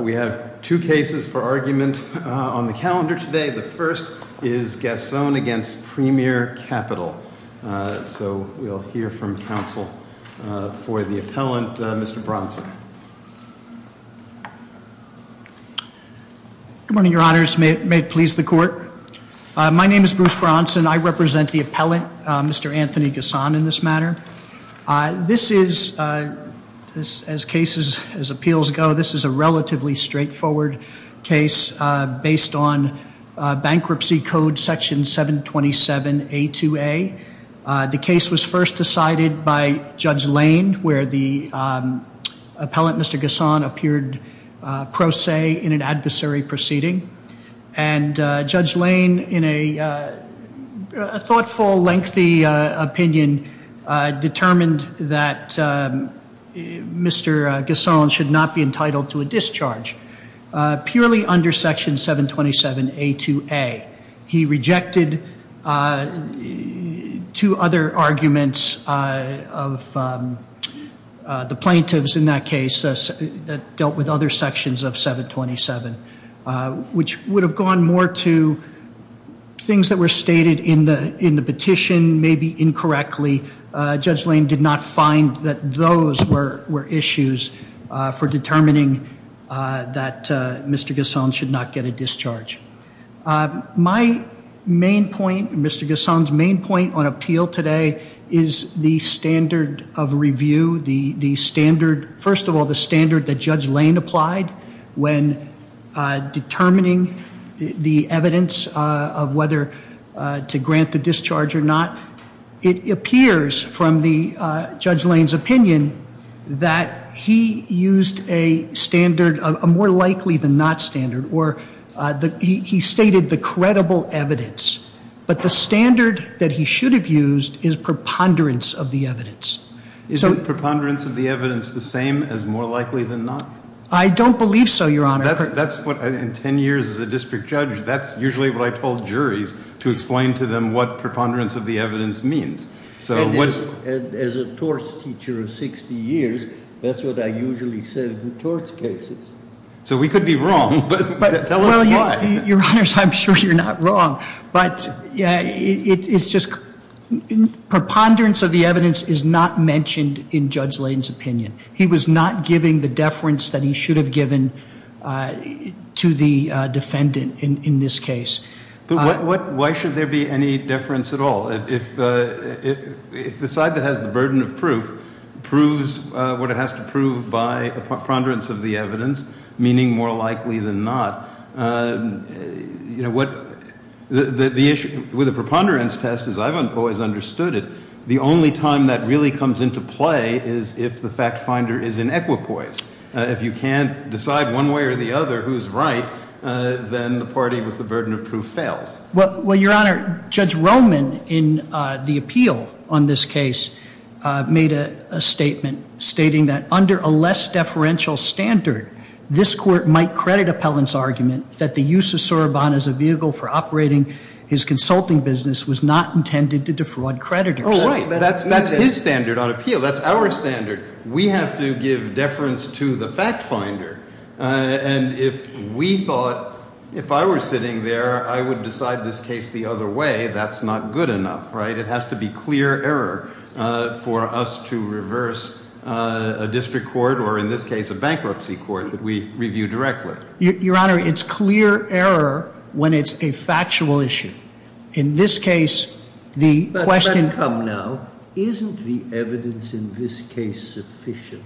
We have two cases for argument on the calendar today. The first is Gasson against Premier Capital. So we'll hear from counsel for the appellant, Mr. Bronson. Good morning, your honors. May it please the court. My name is Bruce Bronson. I represent the appellant, Mr. Anthony Gasson in this matter. This is, as cases, as appeals go, this is a relatively straightforward case based on bankruptcy code section 727A2A. The case was first decided by Judge Lane, where the appellant, Mr. Gasson, appeared pro se in an adversary proceeding. And Judge Lane, in a thoughtful, lengthy opinion, determined that Mr. Gasson should not be entitled to a discharge, purely under section 727A2A. He rejected two other arguments of the plaintiffs in that case that dealt with other sections of Judge Lane did not find that those were issues for determining that Mr. Gasson should not get a discharge. My main point, Mr. Gasson's main point on appeal today, is the standard of review. The standard, first of all, the standard that Judge Lane applied when determining the evidence of to grant the discharge or not, it appears from the Judge Lane's opinion that he used a standard, a more likely than not standard, where he stated the credible evidence. But the standard that he should have used is preponderance of the evidence. Is the preponderance of the evidence the same as more likely than not? I don't believe so, Your Honor. That's what, in ten years as a district judge, that's usually what I told juries to explain to them what preponderance of the evidence means. And as a torts teacher of 60 years, that's what I usually said in torts cases. So we could be wrong, but tell us why. Your Honors, I'm sure you're not wrong. But yeah, it's just preponderance of the evidence is not mentioned in Judge Lane's opinion. He was not giving the defendant in this case. But why should there be any deference at all? If the side that has the burden of proof proves what it has to prove by a preponderance of the evidence, meaning more likely than not, you know, with a preponderance test, as I've always understood it, the only time that really comes into play is if the fact finder is in equipoise. If you can't decide one way or the other who's right, then the party with the burden of proof fails. Well, Your Honor, Judge Roman, in the appeal on this case, made a statement stating that under a less deferential standard, this court might credit Appellant's argument that the use of Soroban as a vehicle for operating his consulting business was not intended to defraud creditors. That's his standard on appeal. That's our standard. We have to give deference to the fact finder. And if we thought, if I were sitting there, I would decide this case the other way, that's not good enough, right? It has to be clear error for us to reverse a district court, or in this case, a bankruptcy court that we review directly. Your Honor, it's clear error when it's a factual issue. In this case, the question- But come now, isn't the evidence in this case sufficient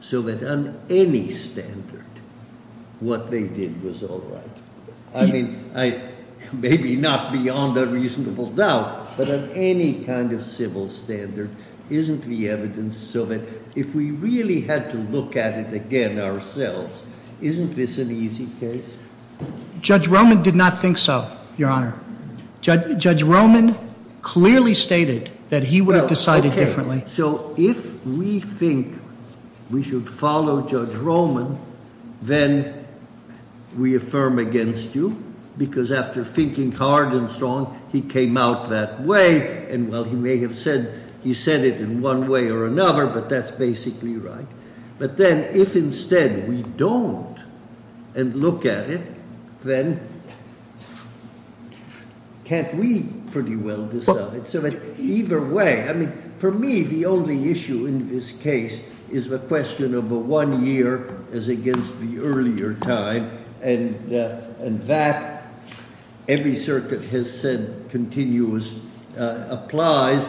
so that on any standard, what they did was all right? I mean, maybe not beyond a reasonable doubt, but on any kind of civil standard, isn't the evidence so that if we really had to look at it again ourselves, isn't this an easy case? Judge Roman did not think so, Your Honor. Judge Roman clearly stated that he would have decided differently. So if we think we should follow Judge Roman, then we affirm against you, because after thinking hard and strong, he came out that way. And while he may have said, he said it in one way or another, but that's basically right. But then if instead we don't and look at it, then can't we pretty well decide? So either way, I mean, for me, the only issue in this case is the question of a one-year as against the earlier time, and that every circuit has said continues, applies.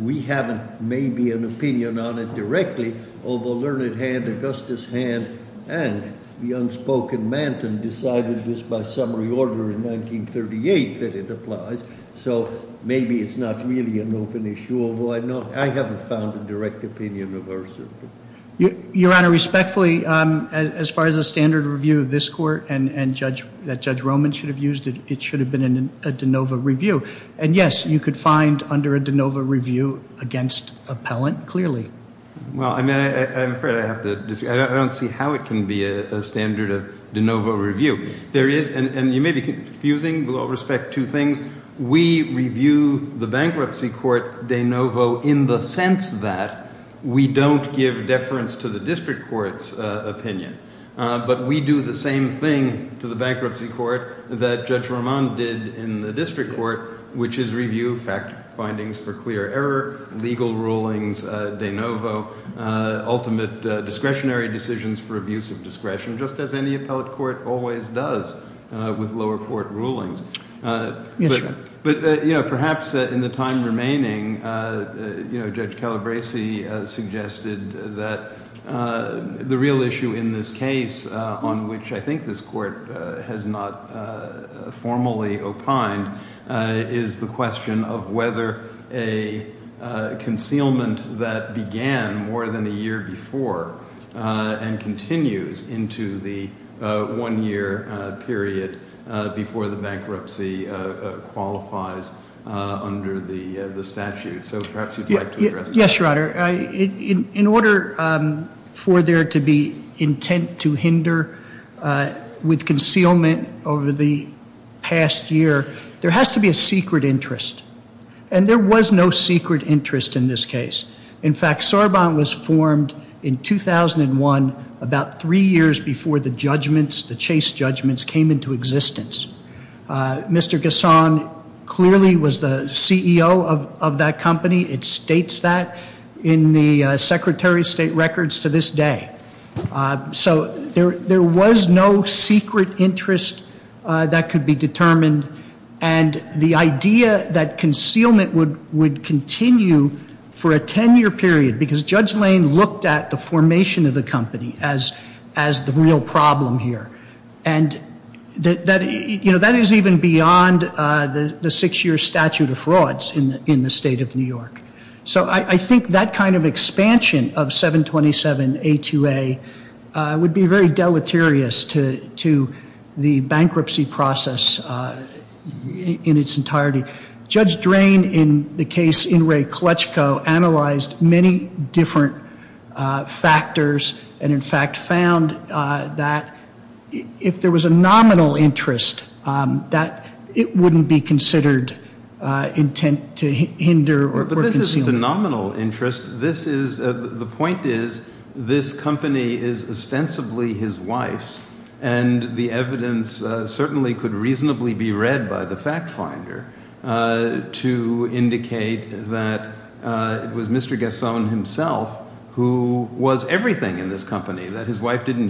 We haven't made an opinion on it directly, although Learned Hand, Augustus Hand, and the unspoken Manton decided this by summary order in 1938 that it applies. So maybe it's not really an open issue, although I know I haven't found a direct opinion of hers. Your Honor, respectfully, as far as a standard review of this court and that Judge Roman should have used, it should have been a de novo review. And yes, you could find under a de novo review against appellant, clearly. Well, I mean, I'm afraid I have to disagree. I don't see how it can be a standard of de novo review. There is, and you may be confusing, with all respect, two things. We review the bankruptcy court de novo in the sense that we don't give deference to the district court's opinion. But we do the same thing to the bankruptcy court that Judge Roman did in the district court, which is review fact findings for clear error, legal rulings de novo, ultimate discretionary decisions for abuse of discretion, just as any appellate court always does with lower court rulings. But perhaps in the time remaining, Judge Calabresi suggested that the real issue in this case, on which I think this court has not formally opined, is the question of whether a concealment that began more than a year before and continues into the one-year period before the bankruptcy qualifies under the statute. So perhaps you'd like to address that. Yes, Your Honor. In order for there to be intent to hinder with concealment over the past year, there has to be a secret interest. And there was no secret interest in this case. In fact, Sarbant was formed in 2001, about three years before the judgments, the Chase judgments, came into existence. Mr. Ghassan clearly was the CEO of that company. It states that in the Secretary of State records to this day. So there was no secret interest that could be determined. And the idea that concealment would continue for a 10-year period, because Judge that, you know, that is even beyond the six-year statute of frauds in the state of New York. So I think that kind of expansion of 727A2A would be very deleterious to the bankruptcy process in its entirety. Judge Drain, in the case In re Clutchco, analyzed many different factors, and in fact found that if there was a nominal interest, that it wouldn't be considered intent to hinder or conceal. But this isn't a nominal interest. This is, the point is, this company is ostensibly his wife's. And the evidence certainly could reasonably be read by the fact his wife didn't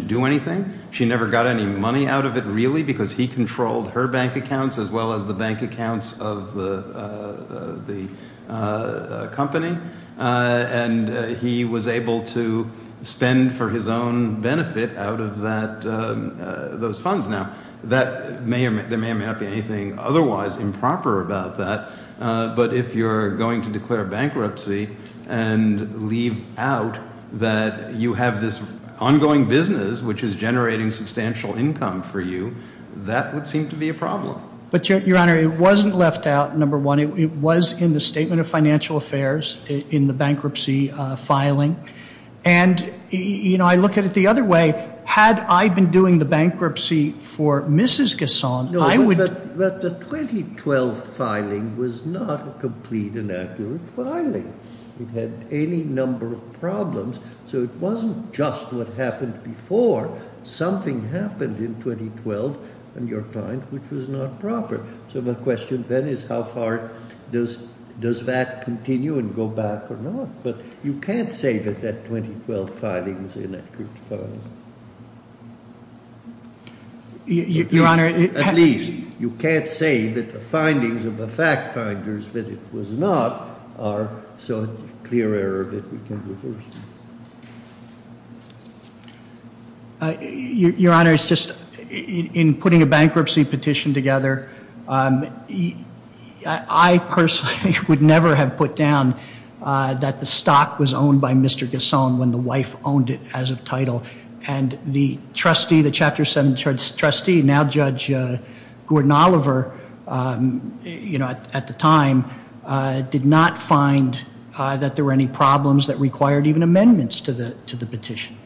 do anything. She never got any money out of it, really, because he controlled her bank accounts as well as the bank accounts of the company. And he was able to spend for his own benefit out of that, those funds. Now, that may or may not be anything otherwise improper about that. But if you're going to declare bankruptcy and leave out that you have this ongoing business which is generating substantial income for you, that would seem to be a problem. But, Your Honor, it wasn't left out, number one. It was in the Statement of Financial Affairs in the bankruptcy filing. And, you know, I look at it the other way. Had I been doing the bankruptcy for Mrs. Casson, I would... But the 2012 filing was not a complete and accurate filing. It had any number of problems. So it wasn't just what happened before. Something happened in 2012, in your mind, which was not proper. So my question then is how far does that continue and go back or not? But you can't say that that 2012 filing was an accurate filing. Your Honor... At least, you can't say that the findings of the fact finders that it was not are so clear error that we can reverse it. Your Honor, it's just, in putting a bankruptcy petition together, I personally would never have put down that the stock was owned by Mr. Casson when the wife owned it as of title. And the trustee, the Chapter 7 trustee, now Judge Gordon-Oliver, you know, at the time, did not find that there were any problems that required even amendments to the petition.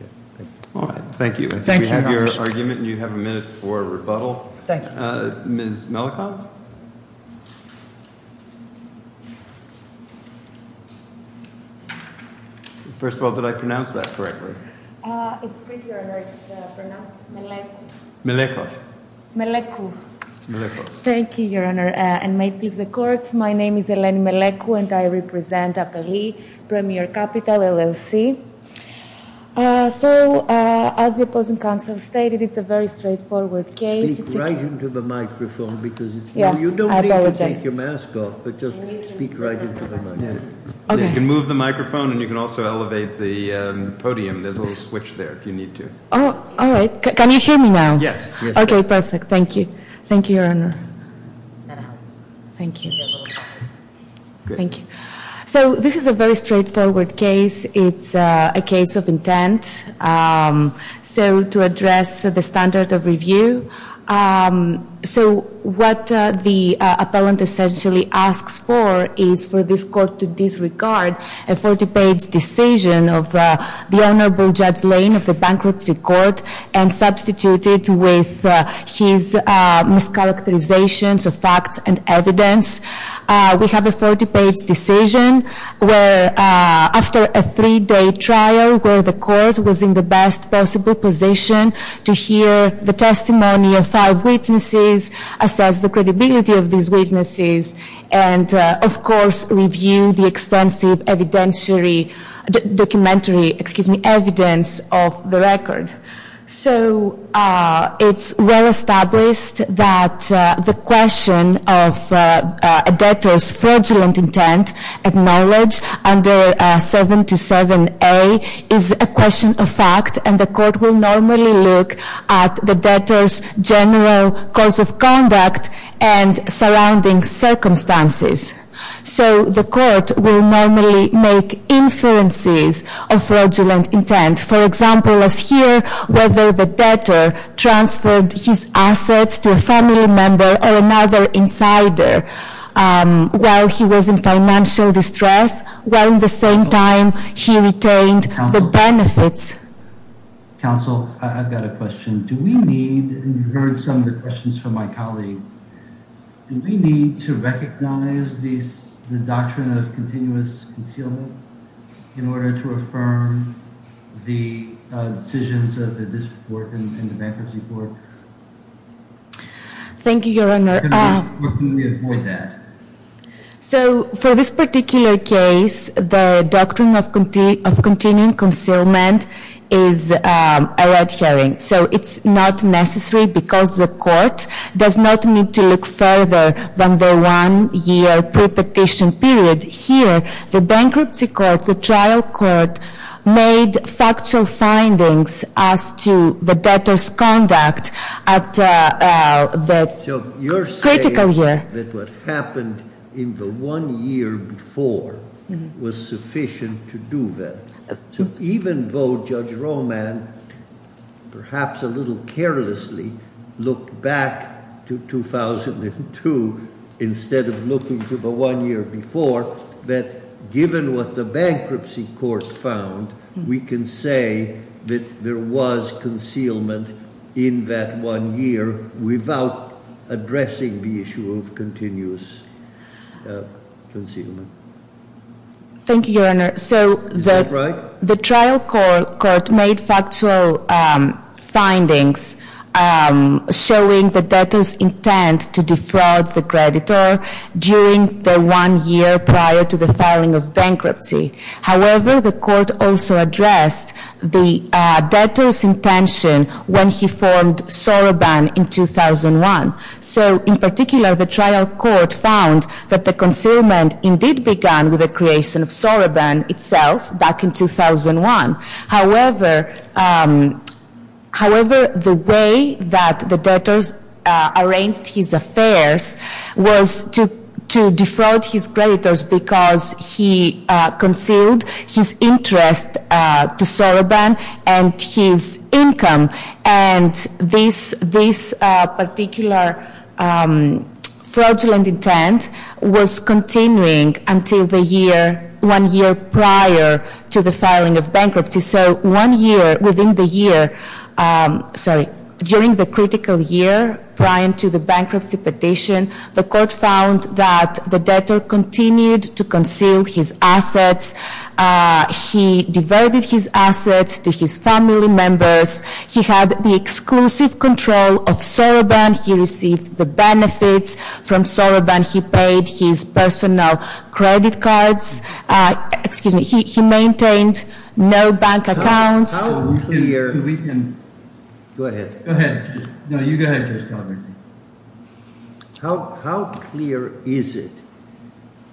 All right. Thank you. Thank you, Your Honor. I think we have your argument and you have a minute for rebuttal. Thank you. Ms. Mellicott? First of all, did I pronounce that correctly? It's good, Your Honor. It's pronounced Mellicott. Mellicott. Mellicott. Mellicott. Thank you, Your Honor. And may it please the Court, my name is Eleni Mellicott and I represent Appalee Premier Capital, LLC. So as the opposing counsel stated, it's a very straightforward case. Speak right into the microphone because it's... Yeah, I apologize. You don't need to take your mask off, but just speak right into the microphone. Okay. You can move the microphone and you can also elevate the podium. There's a little switch there if you need to. Oh, all right. Can you hear me now? Yes. Okay, perfect. Thank you. Thank you, Your Honor. Thank you. Thank you. So this is a very straightforward case. It's a case of intent. So to address the standard of review. So what the appellant essentially asks for is for this court to disregard a 40-page decision of the Honorable Judge Lane of the Bankruptcy Court and substitute it with his mischaracterizations of facts and evidence. We have a 40-page decision where after a three-day trial where the court was in the best possible position to hear the testimony of five witnesses, assess the credibility of these witnesses, and of course, review the extensive documentary evidence of the record. So it's well-established that the question of 727A is a question of fact and the court will normally look at the debtor's general course of conduct and surrounding circumstances. So the court will normally make inferences of fraudulent intent. For example, let's hear whether the debtor transferred his assets to a family member or another insider while he was in financial distress, while at the same time he retained the benefits. Counsel, I've got a question. Do we need, and you heard some of the questions from my colleague, do we need to recognize the doctrine of continuous concealment in order to affirm the decisions of this court and the Bankruptcy Court? Thank you, Your Honor. So for this particular case, the doctrine of continuing concealment is a red herring. So it's not necessary because the court does not need to look further than the one-year pre-petition period. Here, the Bankruptcy Court, the trial court, made factual findings as to the debtor's conduct at the critical year. So you're saying that what happened in the one year before was sufficient to do that. So even though Judge Roman, perhaps a little carelessly, looked back to 2002 instead of looking to the one year before, that given what the Bankruptcy Court found, we can say that there was concealment in that one year without addressing the issue of continuous concealment. Thank you, Your Honor. So the trial court made factual findings showing the debtor's intent to defraud the creditor during the one year prior to the filing of bankruptcy. However, the court also addressed the debtor's intention when he formed Soroban in 2001. So in particular, the trial court found that the concealment indeed began with the creation of Soroban itself back in 2001. However, the way that the debtors arranged his affairs was to defraud his creditors because he concealed his interest to Soroban and his income. And this particular fraudulent intent was continuing until the year, one year prior to the filing of bankruptcy. So one year within the year, sorry, during the critical year prior to the bankruptcy petition, the court found that the debtor continued to conceal his assets. He diverted his assets to his family members. He had the exclusive control of Soroban. He received the benefits from Soroban. He paid his personal credit cards. Excuse me, he maintained no bank accounts. How clear is it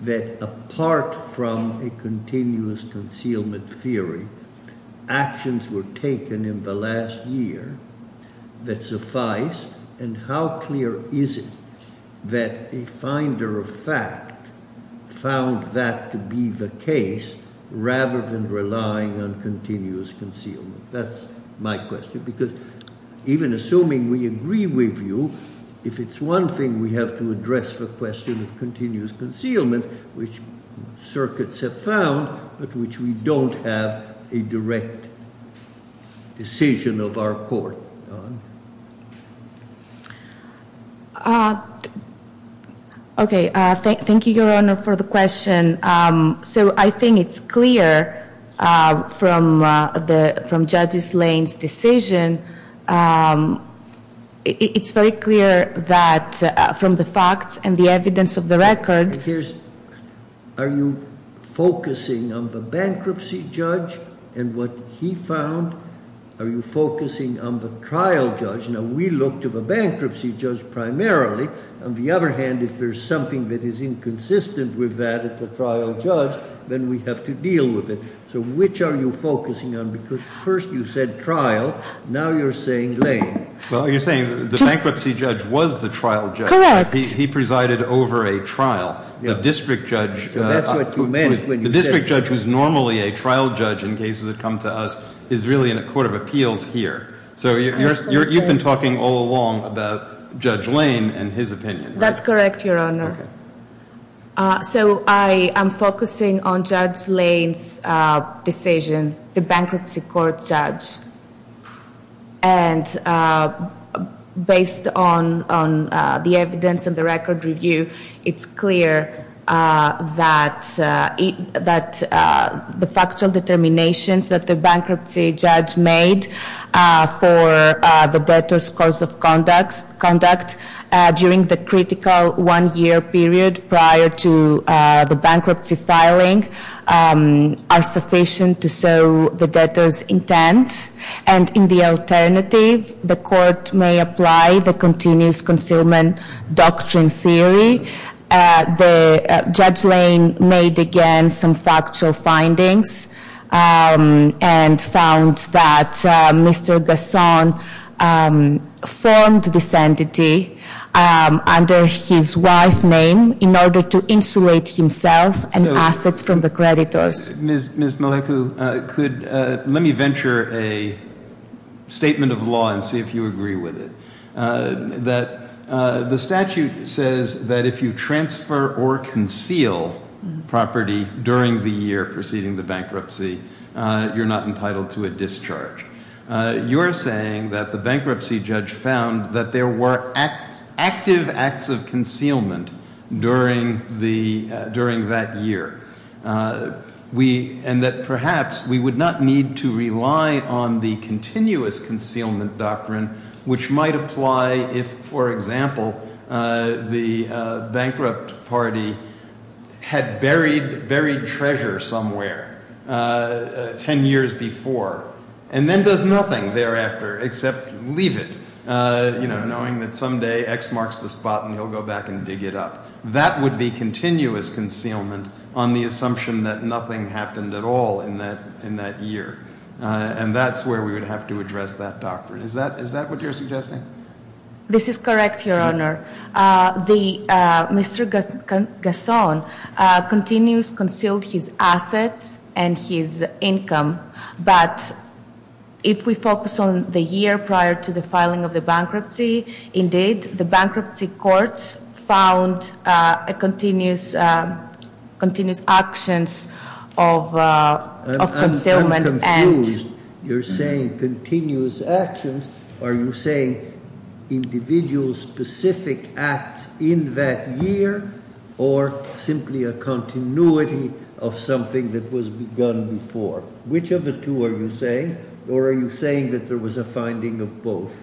that apart from a continuous concealment theory, actions were taken in the last year that suffice? And how clear is it that a finder of fact found that to be the case rather than relying on continuous concealment? That's my question. Because even assuming we agree with you, if it's one thing we have to address the question of continuous concealment, which circuits have found, but which we don't have a direct decision of our court. Okay, thank you, Your Honor, for the question. So I think it's clear from Judge Slane's decision. It's very clear that from the facts and the evidence of the record. Are you focusing on the bankruptcy judge and what he found? Are you focusing on the trial judge? Now, we look to the bankruptcy judge primarily. On the other hand, if there's something that is inconsistent with that at the trial judge, then we have to deal with it. So which are you focusing on? Because first you said trial, now you're saying Lane. Well, you're saying the bankruptcy judge was the trial judge. He presided over a trial. The district judge, the district judge who's normally a trial judge in cases that come to us is really in a court of appeals here. So you've been talking all along about Judge Lane and his opinion. That's correct, Your Honor. So I am focusing on Judge Lane's decision, the bankruptcy court judge. And based on the evidence and the record review, it's clear that the factual determinations that prior to the bankruptcy filing are sufficient to serve the debtor's intent. And in the alternative, the court may apply the continuous concealment doctrine theory. Judge Lane made, again, some factual findings and found that Mr. Besson formed this entity under his wife's name in order to insulate himself and assets from the creditors. Ms. Maleku, let me venture a statement of law and if you agree with it. The statute says that if you transfer or conceal property during the year preceding the bankruptcy, you're not entitled to a discharge. You're saying that the bankruptcy judge found that there were active acts of concealment during that year. And that perhaps we would not need to rely on the continuous concealment doctrine, which might apply if, for example, the bankrupt party had buried treasure somewhere 10 years before and then does nothing thereafter except leave it, knowing that someday X marks the spot and he'll go back and dig it up. That would be continuous concealment on the assumption that nothing happened at all in that year. And that's where we would have to address that doctrine. Is that what you're suggesting? This is correct, Your Honor. Mr. Besson continues concealed his assets and his income. But if we continue his actions of concealment and- I'm confused. You're saying continuous actions. Are you saying individual specific acts in that year or simply a continuity of something that was begun before? Which of the two are you saying? Or are you saying that there was a finding of both?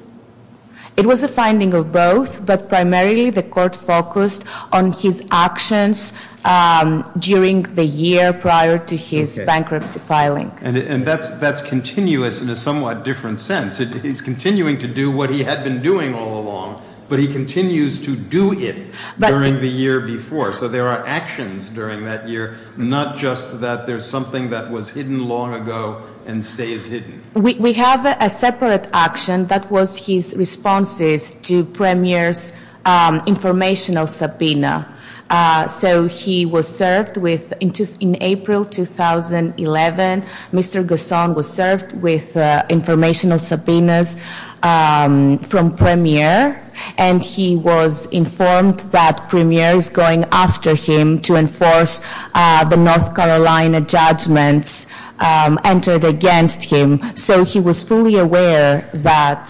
It was a finding of both, but primarily the court focused on his actions during the year prior to his bankruptcy filing. And that's continuous in a somewhat different sense. He's continuing to do what he had been doing all along, but he continues to do it during the year before. So there are actions during that year, not just that there's something that was hidden long ago and stays hidden. We have a separate action that was his responses to Premier's informational subpoena. So he was served with, in April 2011, Mr. Besson was served with informational subpoenas from Premier. And he was informed that Premier is going after him to enforce the North Carolina judgments entered against him. So he was fully aware that,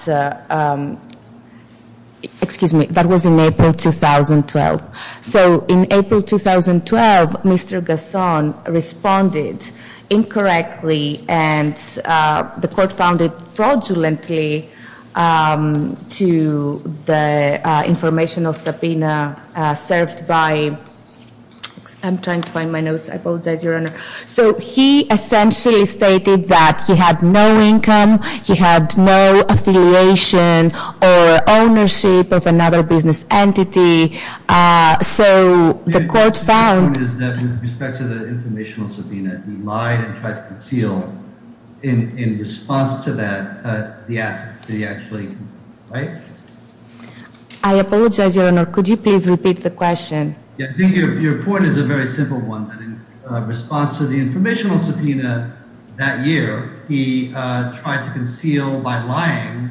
excuse me, that was in April 2012. So in April 2012, Mr. Besson responded incorrectly and the court found it fraudulently to the informational subpoena served by, I'm trying to find my notes. I apologize, Your Honor. So he essentially stated that he had no income, he had no affiliation or ownership of another business entity. So the court found- The point is that with respect to the informational subpoena, he lied and tried to conceal in response to that, the assets that he actually, right? I apologize, Your Honor. Could you please repeat the question? Your point is a very simple one that in response to the informational subpoena that year, he tried to conceal by lying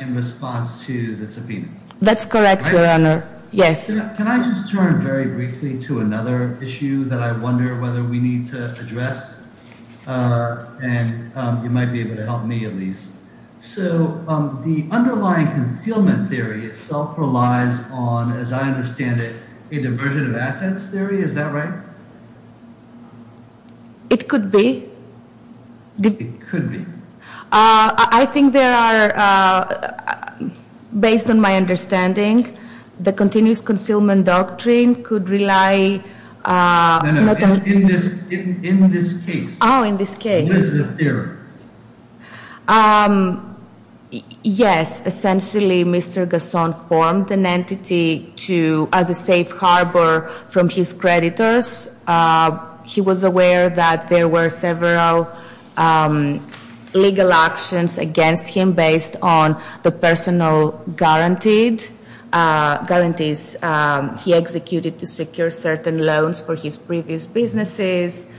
in response to the subpoena. That's correct, Your Honor. Yes. Can I just turn very briefly to another issue that I wonder whether we need to address? And you might be able to help me at least. So the underlying concealment theory itself relies on, as I understand it, a diversion of assets theory, is that right? It could be. It could be. I think there are, based on my understanding, the continuous concealment doctrine could rely- No, no. In this case. Oh, in this case. This is a theory. Yes. Essentially, Mr. Gasson formed an entity to, as a safe harbor from his creditors. He was aware that there were several legal actions against him based on the personal guarantees he executed to secure certain loans for his previous businesses.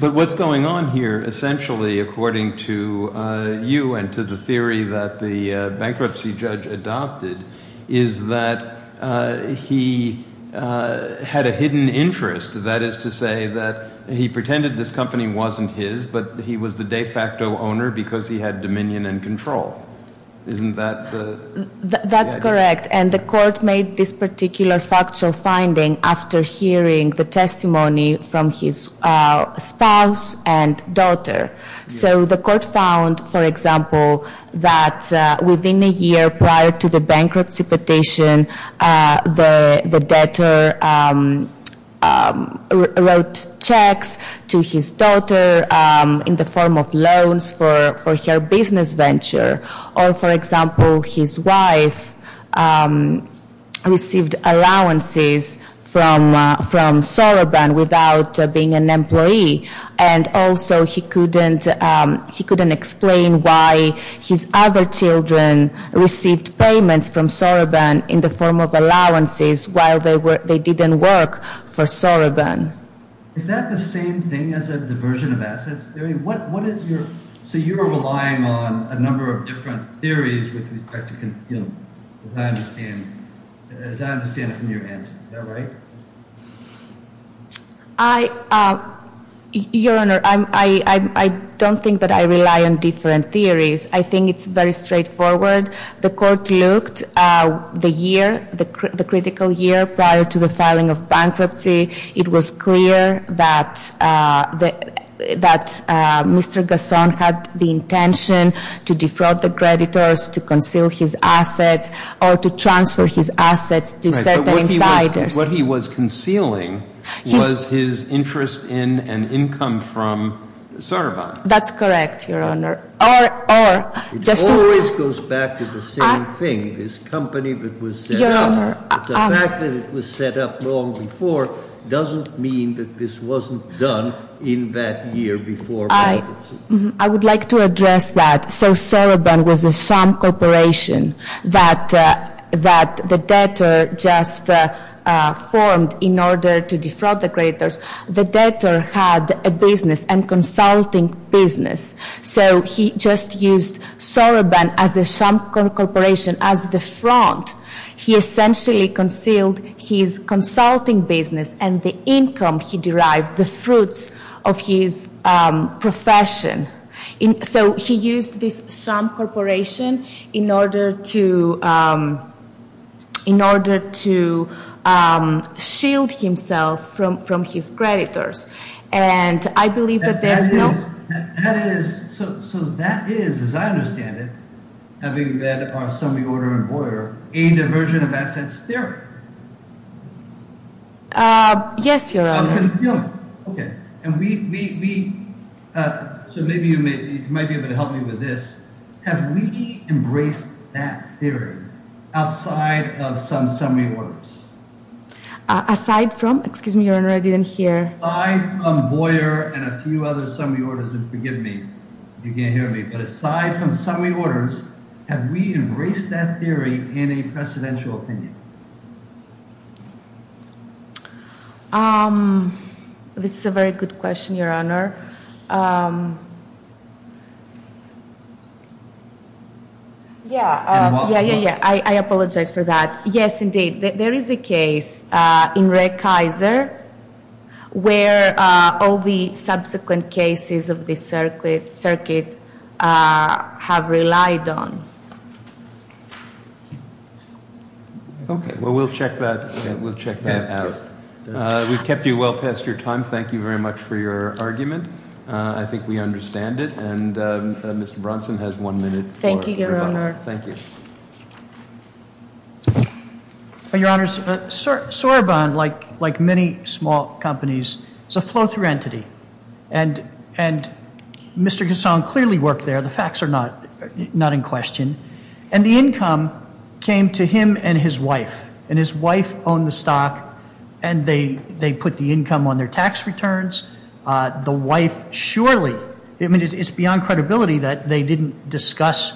But what's going on here, essentially, according to you and to the theory that the bankruptcy judge adopted, is that he had a hidden interest. That is to say that he pretended this company wasn't his, but he was the de facto owner because he had dominion and control. Isn't that the- That's correct. And the court made this particular factual finding after hearing the testimony from his spouse and daughter. So the court found, for example, that within a year prior to the bankruptcy petition, the debtor wrote checks to his daughter in the form of loans for her business venture. Or, for example, his wife received allowances from Soroban without being an employee. And also, he couldn't explain why his other children received payments from Soroban in the form of allowances while they didn't work for Soroban. Is that the same thing as a diversion of assets theory? What is your- So you're relying on a different theory, as I understand it from your answer. Is that right? Your Honor, I don't think that I rely on different theories. I think it's very straightforward. The court looked the year, the critical year prior to the filing of bankruptcy. It was clear that Mr. Gasson had the intention to defraud the creditors, to conceal his assets, or to transfer his assets to certain insiders. Right. But what he was concealing was his interest in and income from Soroban. That's correct, Your Honor. Or, just to- It always goes back to the same thing. This company that was set up- Your Honor- The fact that it was set up long before doesn't mean that this wasn't done in that year before bankruptcy. I would like to address that. So, Soroban was a sham corporation that the debtor just formed in order to defraud the creditors. The debtor had a business, a consulting business. So, he just used Soroban as a sham corporation, as the front. He essentially concealed his and the income he derived, the fruits of his profession. So, he used this sham corporation in order to shield himself from his creditors. And I believe that there is no- That is, so that is, as I understand it, having read our summary order in Boyer, aimed a version of assets theory. Yes, Your Honor. Okay. And we, so maybe you might be able to help me with this. Have we embraced that theory outside of some summary orders? Aside from, excuse me, Your Honor, I didn't hear- Aside from Boyer and a few other summary orders, and forgive me if you can't hear me, but aside from summary orders, have we embraced that theory in a precedential opinion? This is a very good question, Your Honor. Yeah. Yeah, yeah, yeah. I apologize for that. Yes, indeed. There is a case in Ray Kaiser where all the subsequent cases of the circuit have relied on. Okay. Well, we'll check that, we'll check that out. We've kept you well past your time. Thank you very much for your argument. I think we understand it. And Mr. Bronson has one minute. Thank you, Your Honor. Thank you. Well, Your Honor, Sorbonne, like many small companies, is a flow-through entity. And Mr. Gascon clearly worked there. The facts are not in question. And the income came to him and his wife. And his wife owned the stock, and they put the income on their tax returns. The wife surely, I mean, it's beyond credibility that they didn't discuss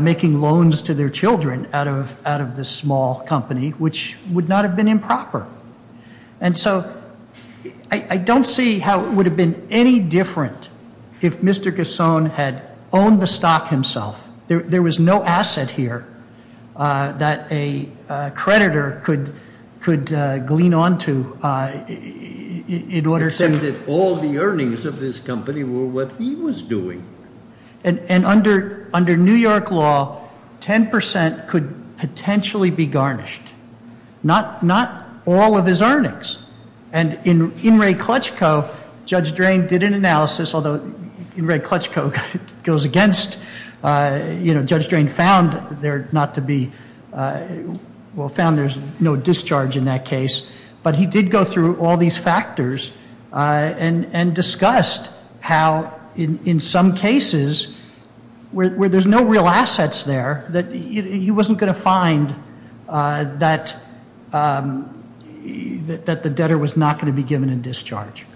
making loans to his wife. To their children out of this small company, which would not have been improper. And so, I don't see how it would have been any different if Mr. Gascon had owned the stock himself. There was no asset here that a creditor could glean onto in order to- He said that all the earnings of this company were what he was doing. And under New York law, 10% could potentially be garnished. Not all of his earnings. And in Wray-Klutchko, Judge Drain did an analysis- Although Wray-Klutchko goes against- You know, Judge Drain found there not to be- Well, found there's no discharge in that case. But he did go through all these factors and discussed how, in some cases, where there's no real assets there, that he wasn't going to find that the debtor was not going to be given in discharge.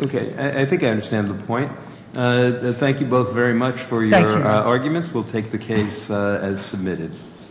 Okay, I think I understand the point. Thank you both very much for your arguments. We'll take the case as submitted.